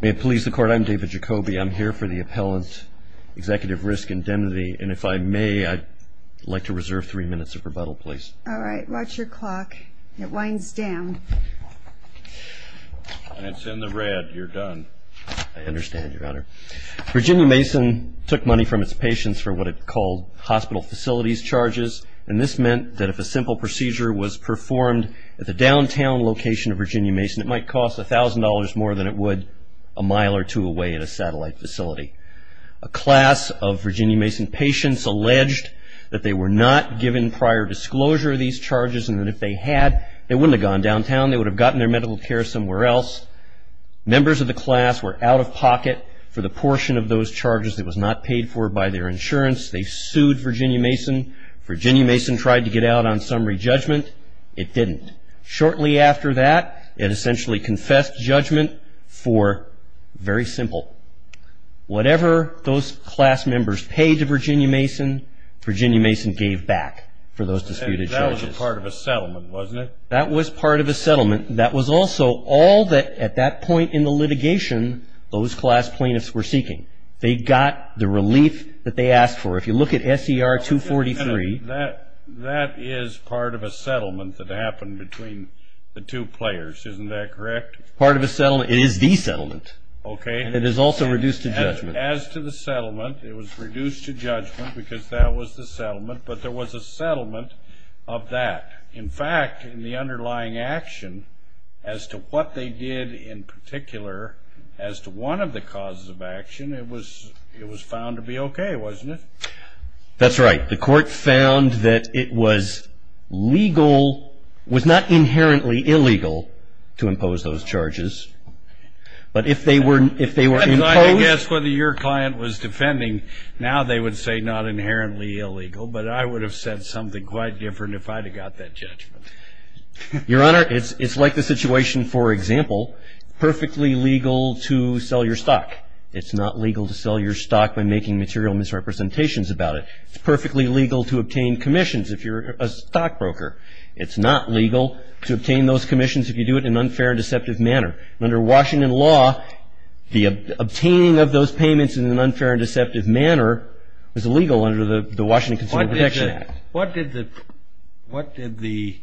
May it please the Court, I'm David Jacoby, I'm here for the Appellant Executive Risk Indemnity, and if I may, I'd like to reserve three minutes of rebuttal, please. Alright, watch your clock. It winds down. And it's in the red, you're done. I understand, Your Honor. Virginia Mason took money from its patients for what it called hospital facilities charges, and this meant that if a simple procedure was performed at the downtown location of Virginia Mason, it might cost a thousand dollars more than it would a mile or two away at a satellite facility. A class of Virginia Mason patients alleged that they were not given prior disclosure of these charges, and that if they had, they wouldn't have gone downtown, they would have gotten their medical care somewhere else. Members of the class were out of pocket for the portion of those charges that was not paid for by their insurance. They sued Virginia Mason. Virginia Mason tried to get out on summary judgment. It didn't. Shortly after that, it essentially confessed judgment for, very simple, whatever those class members paid to Virginia Mason, Virginia Mason gave back for those disputed charges. That was a part of a settlement, wasn't it? That was part of a settlement. That was also all that, at that point in the litigation, those class plaintiffs were seeking. They got the relief that they asked for. If you look at S.E.R. 243... The two players, isn't that correct? Part of a settlement. It is the settlement. Okay. It is also reduced to judgment. As to the settlement, it was reduced to judgment because that was the settlement, but there was a settlement of that. In fact, in the underlying action, as to what they did in particular, as to one of the causes of action, it was found to be okay, wasn't it? That's right. The court found that it was legal, was not inherently illegal, to impose those charges, but if they were imposed... I guess whether your client was defending, now they would say not inherently illegal, but I would have said something quite different if I'd have got that judgment. Your Honor, it's like the situation, for example, perfectly legal to sell your stock. It's not legal to sell your stock by making material misrepresentations about it. It's perfectly legal to obtain commissions if you're a stockbroker. It's not legal to obtain those commissions if you do it in an unfair and deceptive manner. Under Washington law, the obtaining of those payments in an unfair and deceptive manner is illegal under the Washington Consumer Protection Act. What did the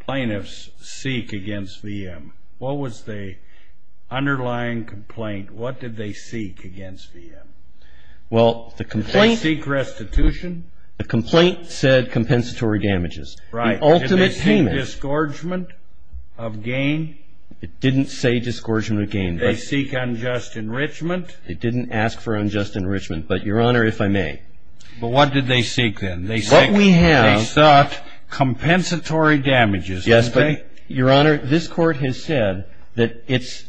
plaintiffs seek against VM? What was the underlying complaint? What did they seek against VM? Well, the complaint... Did they seek restitution? The complaint said compensatory damages. Right. The ultimate payment... Did they seek disgorgement of gain? It didn't say disgorgement of gain. Did they seek unjust enrichment? It didn't ask for unjust enrichment, but Your Honor, if I may... But what did they seek then? They sought compensatory damages. Yes, but Your Honor, this court has said that it's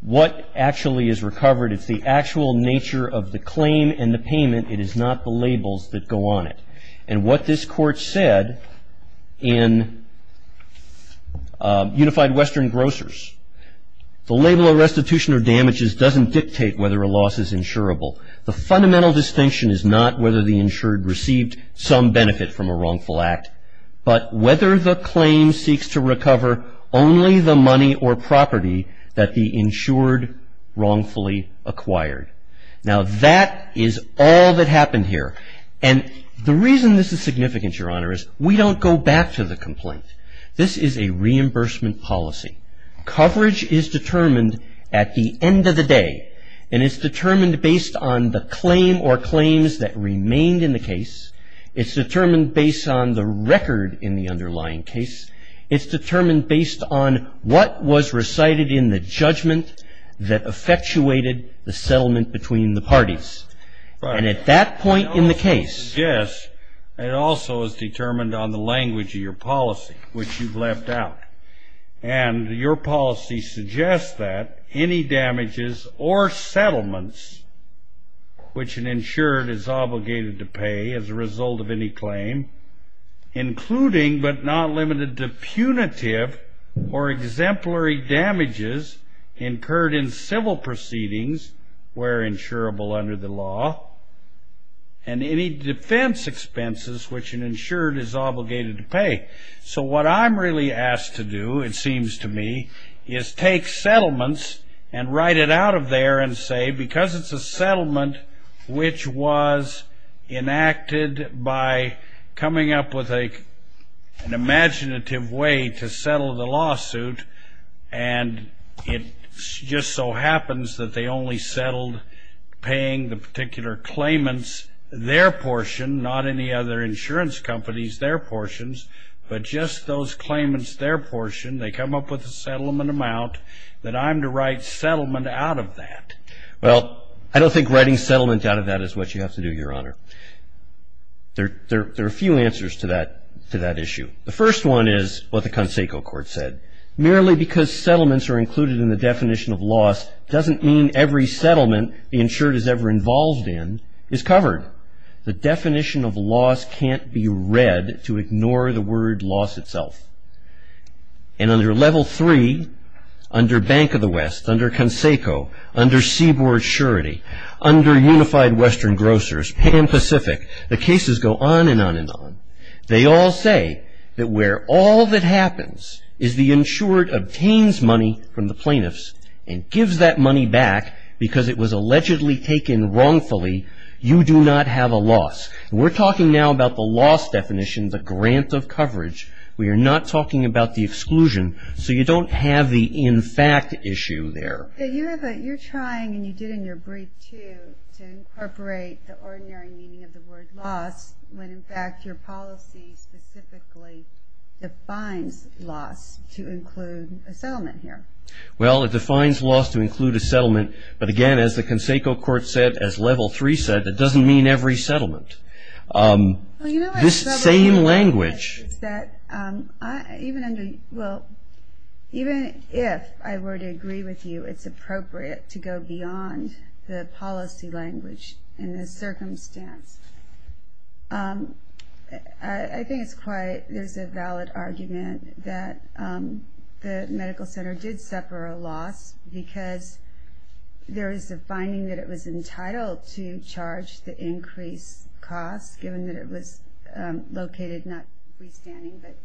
what actually is recovered. It's the actual nature of the claim and the payment. It is not the labels that go on it. And what this court said in Unified Western Grocers, the label of restitution or damages doesn't dictate whether a loss is insurable. The fundamental distinction is not whether the insured received some benefit from a wrongful act, but whether the claim seeks to recover only the money or property that the insured wrongfully acquired. Now that is all that happened here. And the reason this is significant, Your Honor, is we don't go back to the complaint. This is a reimbursement policy. Coverage is determined at the end of the day. And it's determined based on the claim or claims that remained in the case. It's determined based on the record in the underlying case. It's determined based on what was recited in the judgment that effectuated the settlement between the parties. And at that point in the case... Yes, it also is determined on the language of your policy, which you've left out. And your policy suggests that any damages or settlements which an insured is obligated to pay as a result of any claim, including, but not limited to, punitive or exemplary damages incurred in civil proceedings were insurable under the law, and any defense expenses which an insured is obligated to pay. So what I'm really asked to do, it seems to me, is take settlements and write it out of there and say, because it's a settlement which was enacted by coming up with an imaginative way to settle the lawsuit, and it just so happens that they only settled paying the particular claimants their portion, not any other insurance companies their portions, but just those claimants their portion. They come up with a settlement amount that I'm to write settlement out of that. Well, I don't think writing settlement out of that is what you have to do, Your Honor. There are a few answers to that issue. The first one is what the Conseco Court said. Merely because settlements are included in the definition of loss doesn't mean every settlement the insured is ever involved in is covered. The definition of loss can't be read to ignore the word loss itself. And under Level 3, under Bank of the West, under Conseco, under Seaboard Surety, under Unified Western Grocers, Pan Pacific, the cases go on and on and on. They all say that where all that happens is the insured obtains money from the plaintiffs and gives that money back because it was allegedly taken wrongfully, you do not have a loss. We're talking now about the loss definition, the grant of coverage. We are not talking about the exclusion, so you don't have the issue there. You're trying, and you did in your brief too, to incorporate the ordinary meaning of the word loss when in fact your policy specifically defines loss to include a settlement here. Well, it defines loss to include a settlement, but again, as the Conseco Court said, as Level 3 said, that doesn't mean every settlement. This same language that even if I were to agree with you, it's appropriate to go beyond the policy language in this circumstance. I think it's quite, there's a valid argument that the medical center did suffer a loss because there is a finding that it was entitled to charge the increased cost given that it was located, not freestanding, but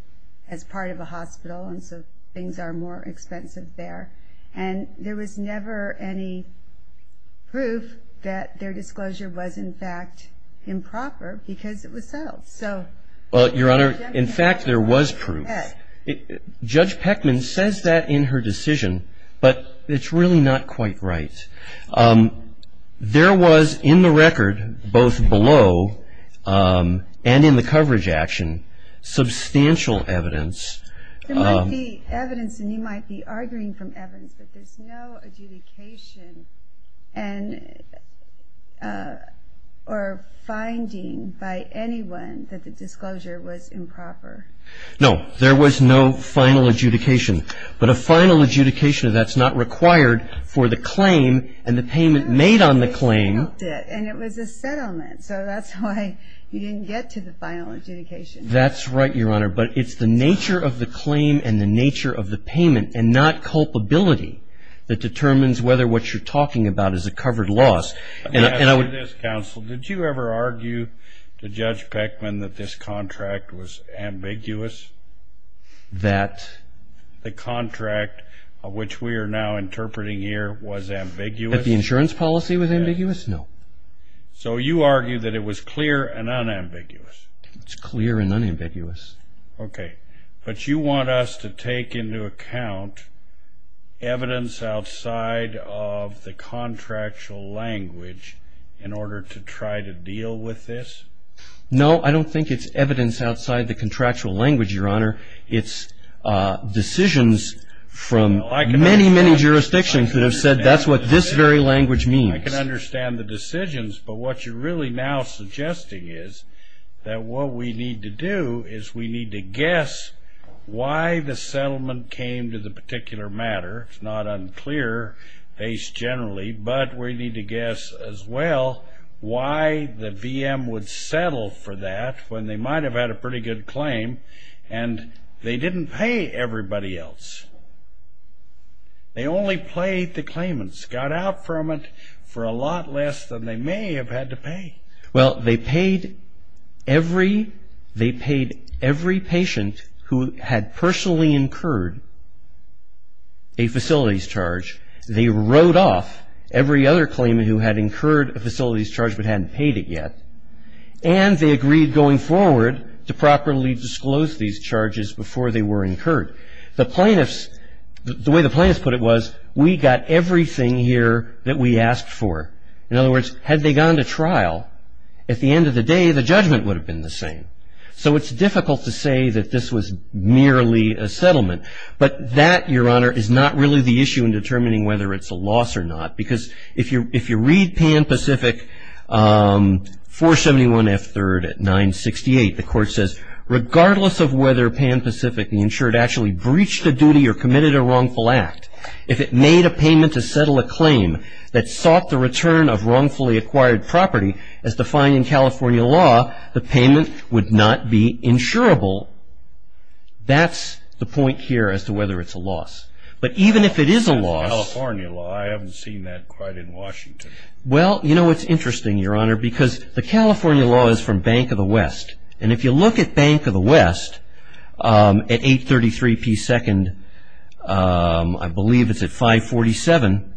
as part of a hospital and so things are more expensive there. And there was never any proof that their disclosure was in fact improper because it was settled. Well, Your Honor, in fact there was proof. Judge Peckman says that in her decision, but it's really not quite right. There was in the record, both below and in the coverage action, substantial evidence. There might be evidence, and you might be arguing from evidence, but there's no adjudication or finding by anyone that the disclosure was improper. No, there was no final adjudication, but a final adjudication, that's not required for the claim and the payment made on the claim. And it was a settlement, so that's why you didn't get to the final adjudication. That's right, Your Honor, but it's the nature of the claim and the nature of the payment and not culpability that determines whether what you're talking about is a covered loss. Let me ask you this, counsel. Did you ever argue to Judge Peckman that this contract was ambiguous? That the contract, which we are now interpreting here, was ambiguous? That the insurance policy was ambiguous? No. So you argue that it was clear and unambiguous. It's clear and unambiguous. Okay, but you want us to take into account evidence outside of the contractual language in order to try to deal with this? No, I don't think it's evidence outside the contractual language, Your Honor. It's decisions from many, many jurisdictions that have said that's what this very language means. I can understand the decisions, but what you're really now suggesting is that what we need to do is we need to guess why the settlement came to the particular matter. It's not unclear, based generally, but we need to guess as well why the VM would settle for that when they might have had a pretty good claim and they didn't pay everybody else. They only paid the claimants, got out from it for a lot less than they may have had to pay. Well, they paid every, they paid every patient who had personally incurred a facilities charge. They wrote off every other claimant who had incurred a facilities charge but hadn't paid it yet, and they agreed going forward to properly disclose these charges before they were incurred. The plaintiffs, the way the plaintiffs put it was, we got everything here that we asked for. In other words, had they gone to trial, at the end of the day, the judgment would have been the same. So it's difficult to say that this was merely a settlement, but that, Your Honor, is not really the issue in determining whether it's a loss or not, because if you read Pan Pacific 471 F. 3rd at 968, the court says, regardless of whether Pan Pacific, the insured, actually breached a duty or committed a wrongful act, if it made a payment to settle a claim that sought the return of wrongfully acquired property as defined in California law, the payment would not be insurable. That's the point here as to whether it's a loss. But even if it is a loss... California law, I haven't seen that quite in Washington. Well, you know it's interesting, Your Honor, because the California law is from Bank of the West, and if you look at Bank of the West at 833 P. 2nd, I believe it's at 547,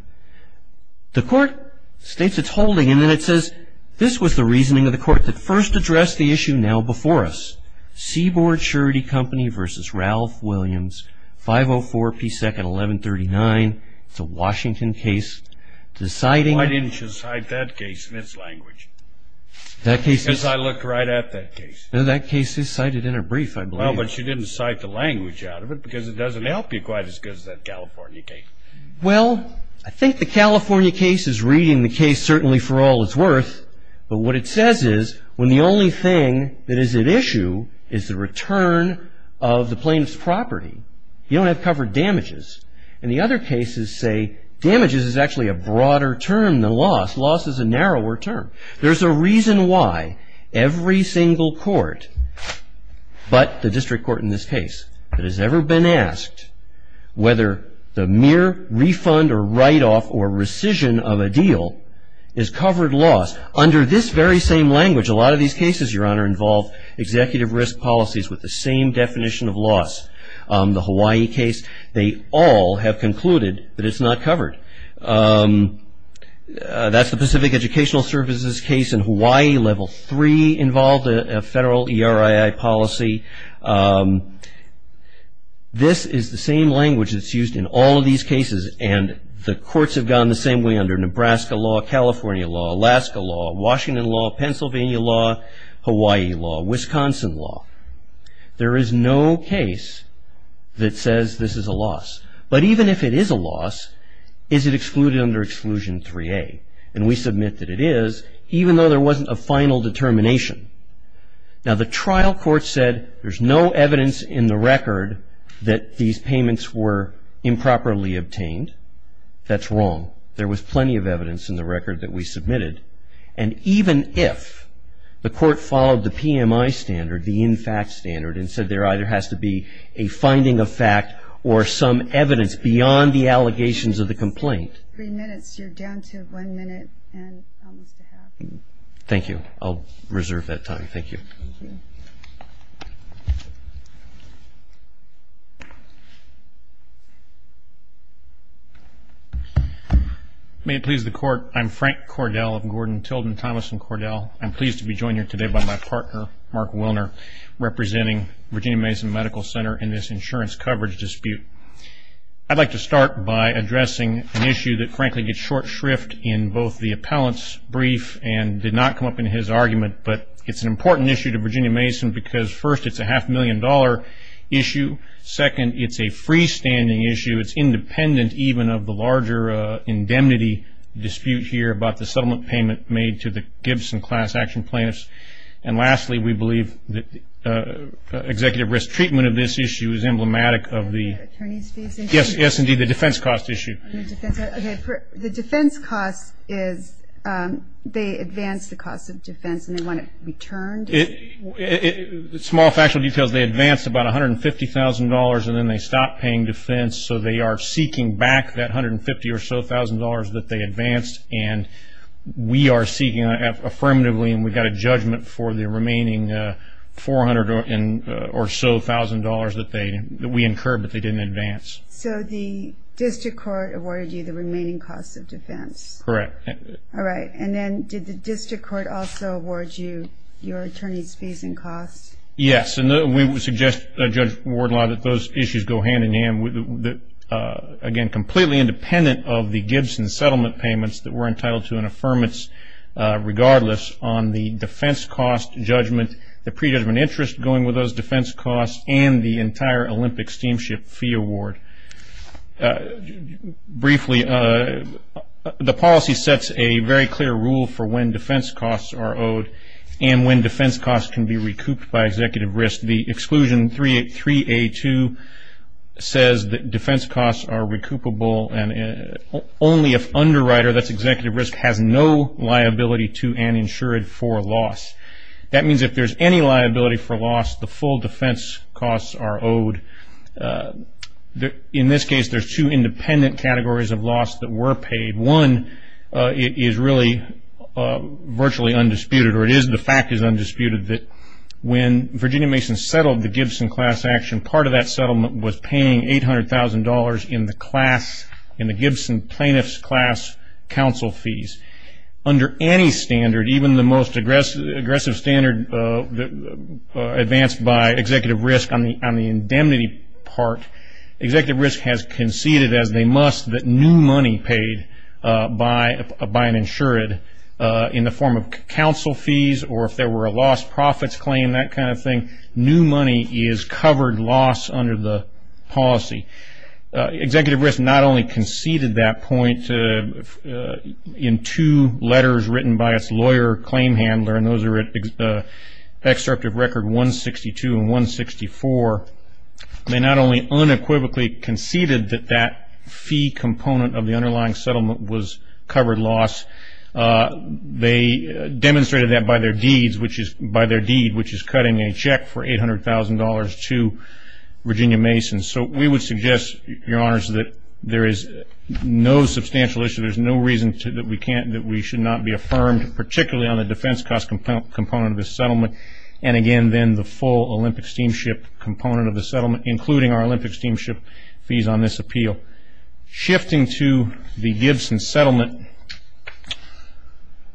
the court states it's holding, and then it says, this was the reasoning of the court that first addressed the issue now before us. Seaboard Charity Company v. Ralph Williams, 504 P. 2nd, 1139. It's a Washington case. Deciding... Why didn't you cite that case in its language? That case is... Because I looked right at that case. No, that case is cited in a brief, I believe. Well, but you didn't cite the language out of it, because it doesn't help you quite as good as that California case. Well, I think the California case is reading the case certainly for all it's worth, but what it says is, when the only thing that is at issue is the return of the plaintiff's property, you don't have covered damages. And the other cases say damages is actually a broader term than loss. Loss is a narrower term. There's a reason why every single court, but the district court in this case, that has ever been asked whether the mere refund or write-off or rescission of a deal is covered loss. Under this very same language, a lot of these cases, Your Honor, involve executive risk policies with the same definition of loss. The Hawaii case, they all have concluded that it's not covered. That's the Pacific Educational Services case in Hawaii, Level 3 involved a federal ERII policy. This is the same language that's used in all these cases, and the courts have gone the same way under Nebraska law, California law, Alaska law, Washington law, Pennsylvania law, Hawaii law, Wisconsin law. There is no case that says this is a loss. But even if it is a loss, is it excluded under Exclusion 3A? And we submit that it is, even though there wasn't a final determination. Now the trial court said there's no evidence in the record that these payments were improperly obtained. That's wrong. There was plenty of evidence in the record that we submitted, and even if the court followed the PMI standard, the in fact standard, and said there either has to be a finding of fact or some evidence beyond the allegations of the complaint. Three minutes. You're down to one minute and almost a half. Thank you. I'll reserve that time. Thank you. May it please the Court, I'm Frank Cordell of Gordon, Tilden, Thomas & Cordell. I'm pleased to be joined here today by my partner, Mark Willner, representing Virginia Mason Medical Center in this insurance coverage dispute. I'd like to start by addressing an issue that frankly gets short shrift in both the appellant's brief and did not come up in his argument, but it's an important issue to Virginia Mason because first it's a half-million dollar issue. Second, it's a freestanding issue. It's independent even of the larger indemnity dispute here about the settlement payment made to the Gibson class action plaintiffs. And lastly, we believe that the executive risk treatment of this issue is emblematic of the Yes, indeed, the defense cost issue. The defense cost is, they advance the cost of defense and they want it returned? Small factual details, they advance about a hundred and fifty thousand dollars and then they stop paying defense so they are seeking back that hundred and fifty or so thousand dollars that they advanced and we are seeking affirmatively and we got a judgment for the remaining four hundred or so thousand dollars that they incurred but they didn't advance. So the district court awarded you the remaining cost of defense? Correct. Alright, and then did the district court also award you your attorney's fees and costs? Yes, and we would suggest Judge Wardlaw that those issues go hand-in-hand with again completely independent of the Gibson settlement payments that were entitled to an affirmance regardless on the defense cost judgment, the pre-judgment interest going with those defense costs, and the entire Olympic steamship fee award. Briefly, the policy sets a very clear rule for when defense costs are owed and when defense costs can be recouped by executive risk. The exclusion 3A2 says that defense costs are recoupable and only if underwriter, that's executive risk, has no liability to and insured for loss. That means if there's any liability for loss, the full defense costs are owed. In this case, there's two independent categories of loss that were paid. One, it is really virtually undisputed or it is the fact is undisputed that when Virginia Mason settled the Gibson class action, part of that settlement was paying eight hundred thousand dollars in the class in the Gibson plaintiff's class counsel fees. Under any standard, even the most aggressive standard advanced by executive risk on the indemnity part, executive risk has conceded as they must that new money paid by an insured in the form of counsel fees or if there were a lost profits claim, that kind of thing. New money is covered loss under the policy. Executive risk not only conceded that point in two letters written by its lawyer claim handler and those are at excerpt of record 162 and 164, they not only unequivocally conceded that that fee component of the underlying settlement was covered loss, they demonstrated that by their deeds which is by their deed which is cutting a check for eight hundred thousand dollars to Virginia Mason. So we would suggest, Your Honors, that there is no substantial issue, there's no reason to that we can't, that we should not be affirmed particularly on the defense cost component of the settlement and again then the full Olympic Steamship component of the settlement including our Olympic Steamship fees on this appeal. Shifting to the Gibson settlement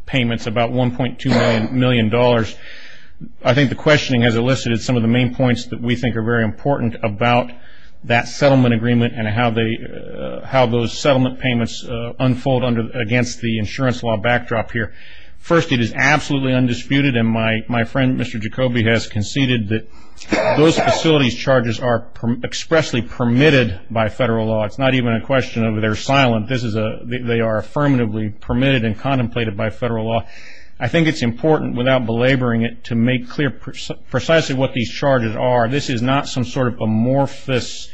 payments about 1.2 million dollars, I think the questioning has elicited some of the main points that we think are very important about that settlement agreement and how those settlement payments unfold against the insurance law backdrop here. First, it is absolutely undisputed and my friend Mr. Jacoby has conceded that those facilities charges are expressly permitted by federal law. It's not even a question of they're silent. They are affirmatively permitted and contemplated by federal law. I think it's important without belaboring it to make clear precisely what these charges are. This is not some sort of amorphous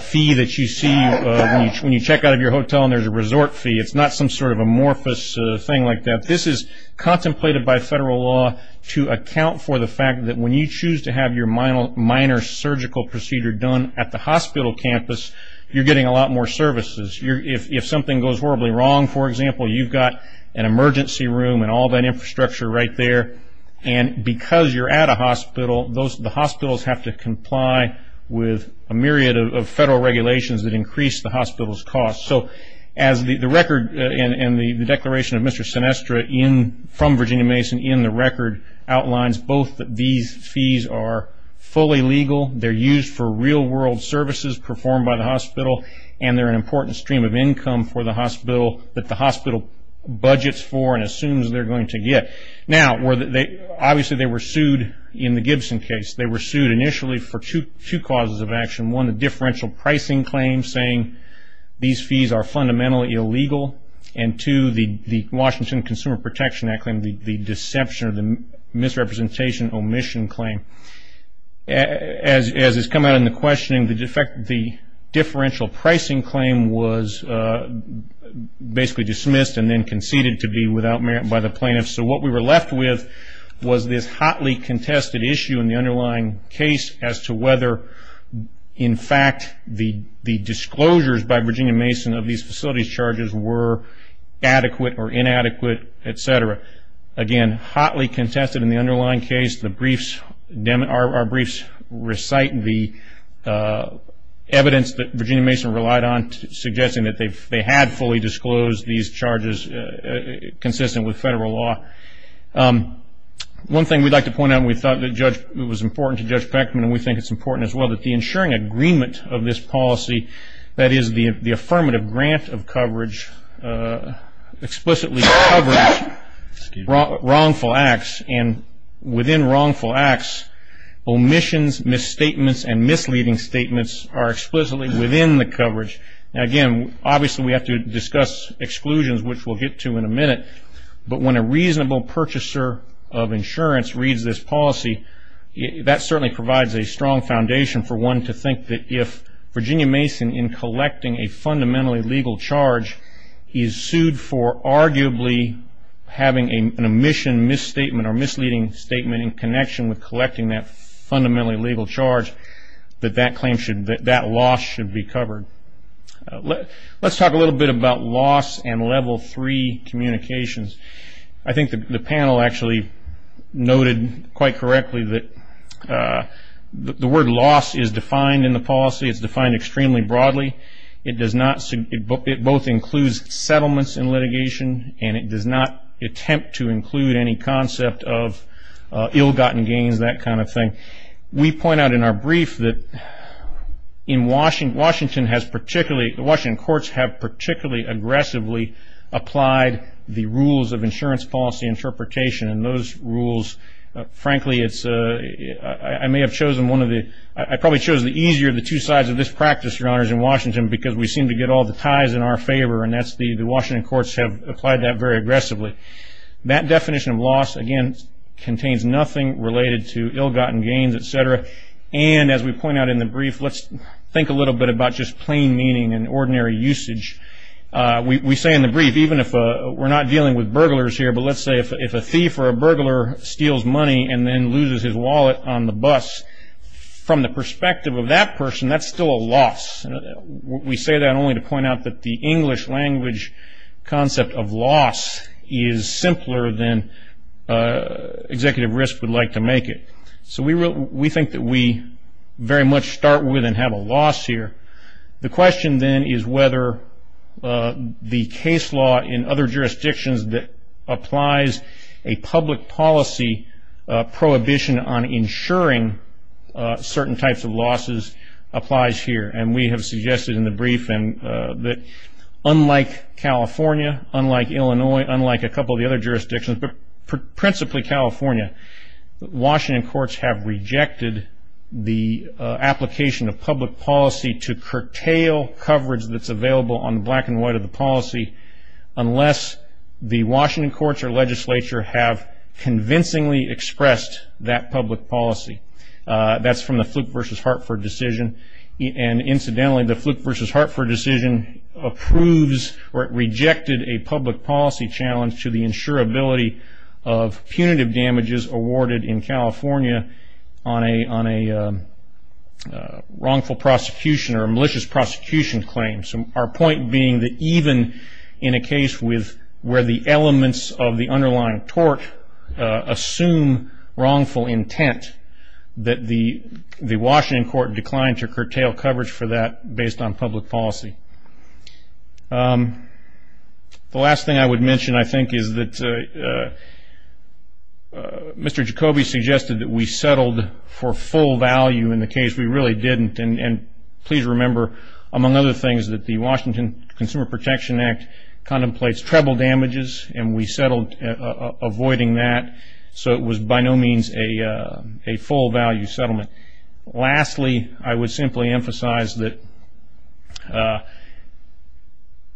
fee that you see when you check out of your hotel and there's a resort fee. It's not some sort of amorphous thing like that. This is contemplated by federal law to account for the fact that when you choose to have your minor surgical procedure done at the hospital campus, you're getting a lot more services. If something goes horribly wrong, for example, you've got an emergency room and all that infrastructure right there and because you're at a hospital, the hospitals have to comply with a myriad of federal regulations that increase the hospital's cost. As the record and the declaration of Mr. Sinestra from Virginia Mason in the record outlines, both these fees are fully legal, they're used for real-world services performed by the hospital, and they're an important stream of income for the hospital that the hospital obviously they were sued in the Gibson case. They were sued initially for two causes of action. One, the differential pricing claim saying these fees are fundamentally illegal and two, the Washington Consumer Protection Act claim, the deception misrepresentation omission claim. As has come out in the questioning, the differential pricing claim was basically dismissed and then conceded to be without merit by the plaintiffs. So what we were left with was this hotly contested issue in the underlying case as to whether, in fact, the disclosures by Virginia Mason of these facilities charges were adequate or inadequate, etc. Again, hotly contested in the underlying case. Our briefs recite the evidence that Virginia Mason relied on suggesting that they had fully disclosed these charges consistent with federal law. One thing we'd like to point out, we thought it was important to Judge Beckman, and we think it's important as well, that the ensuring agreement of this policy, that is, the affirmative grant of coverage explicitly covers wrongful acts, and within wrongful acts, omissions, misstatements, and misleading statements are explicitly within the coverage. Again, obviously we have to discuss exclusions, which we'll get to in a minute, but when a reasonable purchaser of insurance reads this policy, that certainly provides a strong foundation for one to think that if Virginia Mason, in collecting a fundamentally legal charge, is sued for arguably having an omission, misstatement, or misleading statement in connection with collecting that fundamentally legal charge, that that loss should be level 3 communications. I think the panel actually noted quite correctly that the word loss is defined in the policy. It's defined extremely broadly. It both includes settlements in litigation, and it does not attempt to include any concept of ill-gotten gains, that kind of thing. We point out in our brief that Washington courts have particularly aggressively applied the rules of insurance policy interpretation, and those rules, frankly, I may have chosen one of the I probably chose the easier of the two sides of this practice, Your Honors, in Washington because we seem to get all the ties in our favor, and that's the Washington courts have applied that very aggressively. That definition of loss, again, contains nothing related to ill-gotten gains, etc., and as we point out in the brief, let's think a little bit about just plain meaning and ordinary usage. We say in the brief, even if we're not dealing with burglars here, but let's say if a thief or a burglar steals money and then loses his wallet on the bus, from the perspective of that person, that's still a loss. We say that only to point out that the English language concept of loss is simpler than executive risk would like to make it. So we think that we very much start with and have a loss here. The question then is whether the case law in other jurisdictions that applies a public policy prohibition on insuring certain types of losses applies here, and we have suggested in the brief that unlike California, unlike Illinois, unlike a couple the other jurisdictions, but principally California, Washington courts have rejected the application of public policy to curtail coverage that's available on the black and white of the policy unless the Washington courts or legislature have convincingly expressed that public policy. That's from the Fluke v. Hartford decision, and incidentally the Fluke v. Hartford decision approves or rejected a public policy challenge to the insurability of punitive damages awarded in California on a wrongful prosecution or malicious prosecution claim. Our point being that even in a case where the elements of the underlying tort assume wrongful intent, that the Washington court declined to curtail coverage for that based on public policy. The last thing I would mention, I think, is that Mr. Jacoby suggested that we settled for full value in the case. We really didn't, and please remember, among other things, that the Washington Consumer Protection Act contemplates treble damages, and we settled avoiding that, so it was by no means a full value settlement. Lastly, I would simply emphasize that,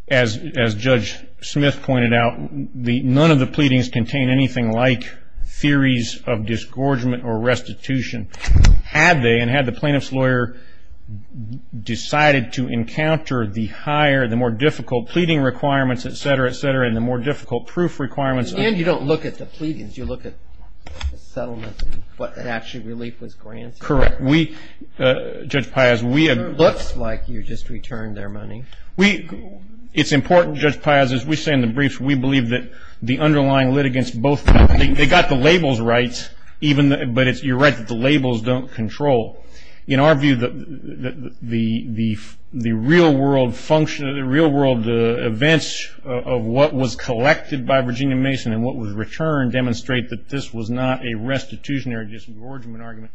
as Judge Smith pointed out, none of the pleadings contain anything like theories of disgorgement or restitution, had they, and had the plaintiff's lawyer decided to encounter the higher, the more difficult, pleading requirements, etc., etc., and the more difficult proof requirements. And you don't look at the pleadings, you look at the settlements and what actually relief was granted. Correct. Judge Piaz, we... It looks like you just returned their money. It's important, Judge Piaz, as we say in the briefs, we believe that the underlying litigants both, they got the labels right, but you're right that the labels don't control. In our view, the real-world function, the real-world events of what was collected by Virginia Mason and what was returned demonstrate that this was not a restitutionary disgorgement argument.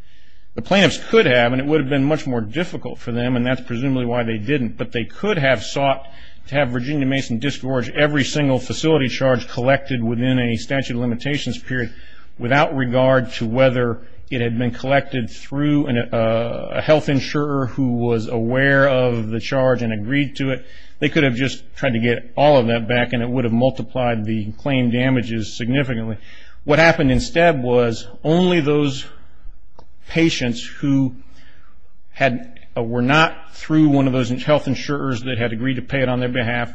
The plaintiffs could have, and it would have been much more difficult for them, and that's presumably why they didn't, but they could have sought to have Virginia Mason disgorge every single facility charge collected within a statute of limitations period without regard to whether it had been collected through a health insurer who was aware of the charge and agreed to it. They could have just tried to get all of that back and it would have multiplied the claim damages significantly. What happened instead was only those patients who were not through one of those health insurers that had agreed to pay it on their behalf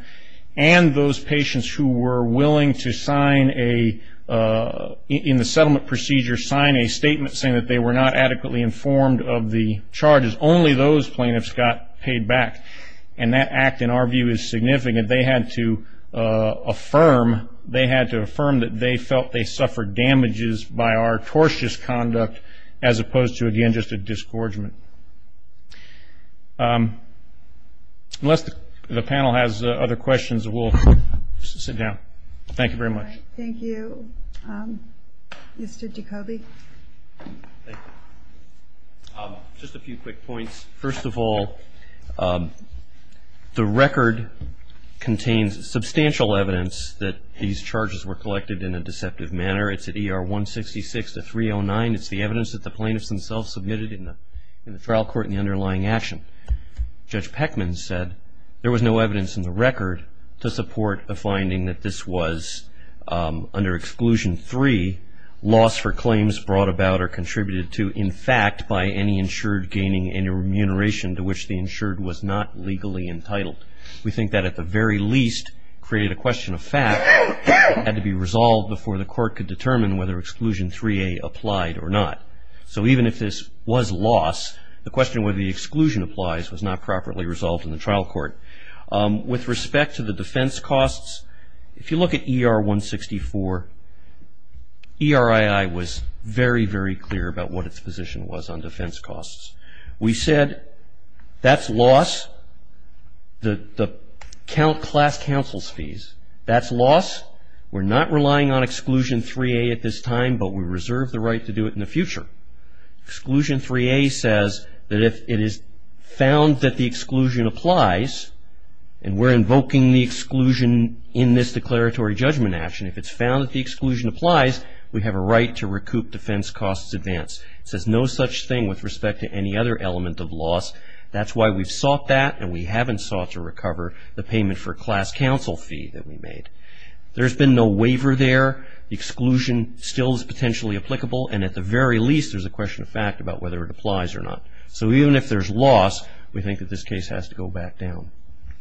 and those patients who were willing to sign in the settlement procedure, sign a statement saying that they were not adequately informed of the charges, only those plaintiffs got paid back. And that act, in our view, is significant. They had to affirm that they felt they suffered damages by our tortious conduct as opposed to, again, just a disgorgement. Unless the panel has other questions, we'll sit down. Thank you very much. Thank you. Mr. Jacoby. Just a few quick points. First of all, the record contains substantial evidence that these charges were collected in a deceptive manner. It's at ER 166-309. It's the evidence that the plaintiffs themselves submitted in the trial court in the underlying action. Judge Peckman said there was no evidence in the record to support a finding that this was, under Exclusion 3, loss for claims brought about or contributed to in fact by any insured gaining any remuneration to which the insured was not legally entitled. We think that at the very least created a question of fact that had to be resolved before the court could determine whether Exclusion 3a applied or not. So even if this was loss, the question whether the exclusion applies was not properly resolved in the trial court. With respect to the defense costs, if you look at ER 164, ERII was very, very clear about what its position was on defense costs. We said that's loss. The class counsel's fees, that's loss. We're not relying on Exclusion 3a at this time, but we reserve the right to do it in the future. Exclusion 3a says that if it is found that the exclusion applies, and we're invoking the exclusion in this declaratory judgment action, if it's found that the exclusion applies, we have a right to recoup defense costs advance. It says no such thing with respect to any other element of loss. That's why we've sought that, and we haven't sought to recover the payment for class counsel fee that we made. There's been no waiver there. Exclusion still is potentially applicable, and at the very least there's a question of fact about whether it applies or not. So even if there's loss, we think that this case has to go back down.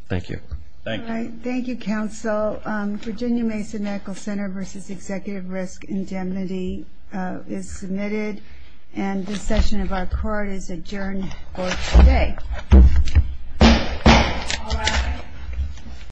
Thank you. Thank you, counsel. Virginia Mason Medical Center v. Executive Risk Indemnity is submitted, and this session of our court is adjourned. Court is dismissed.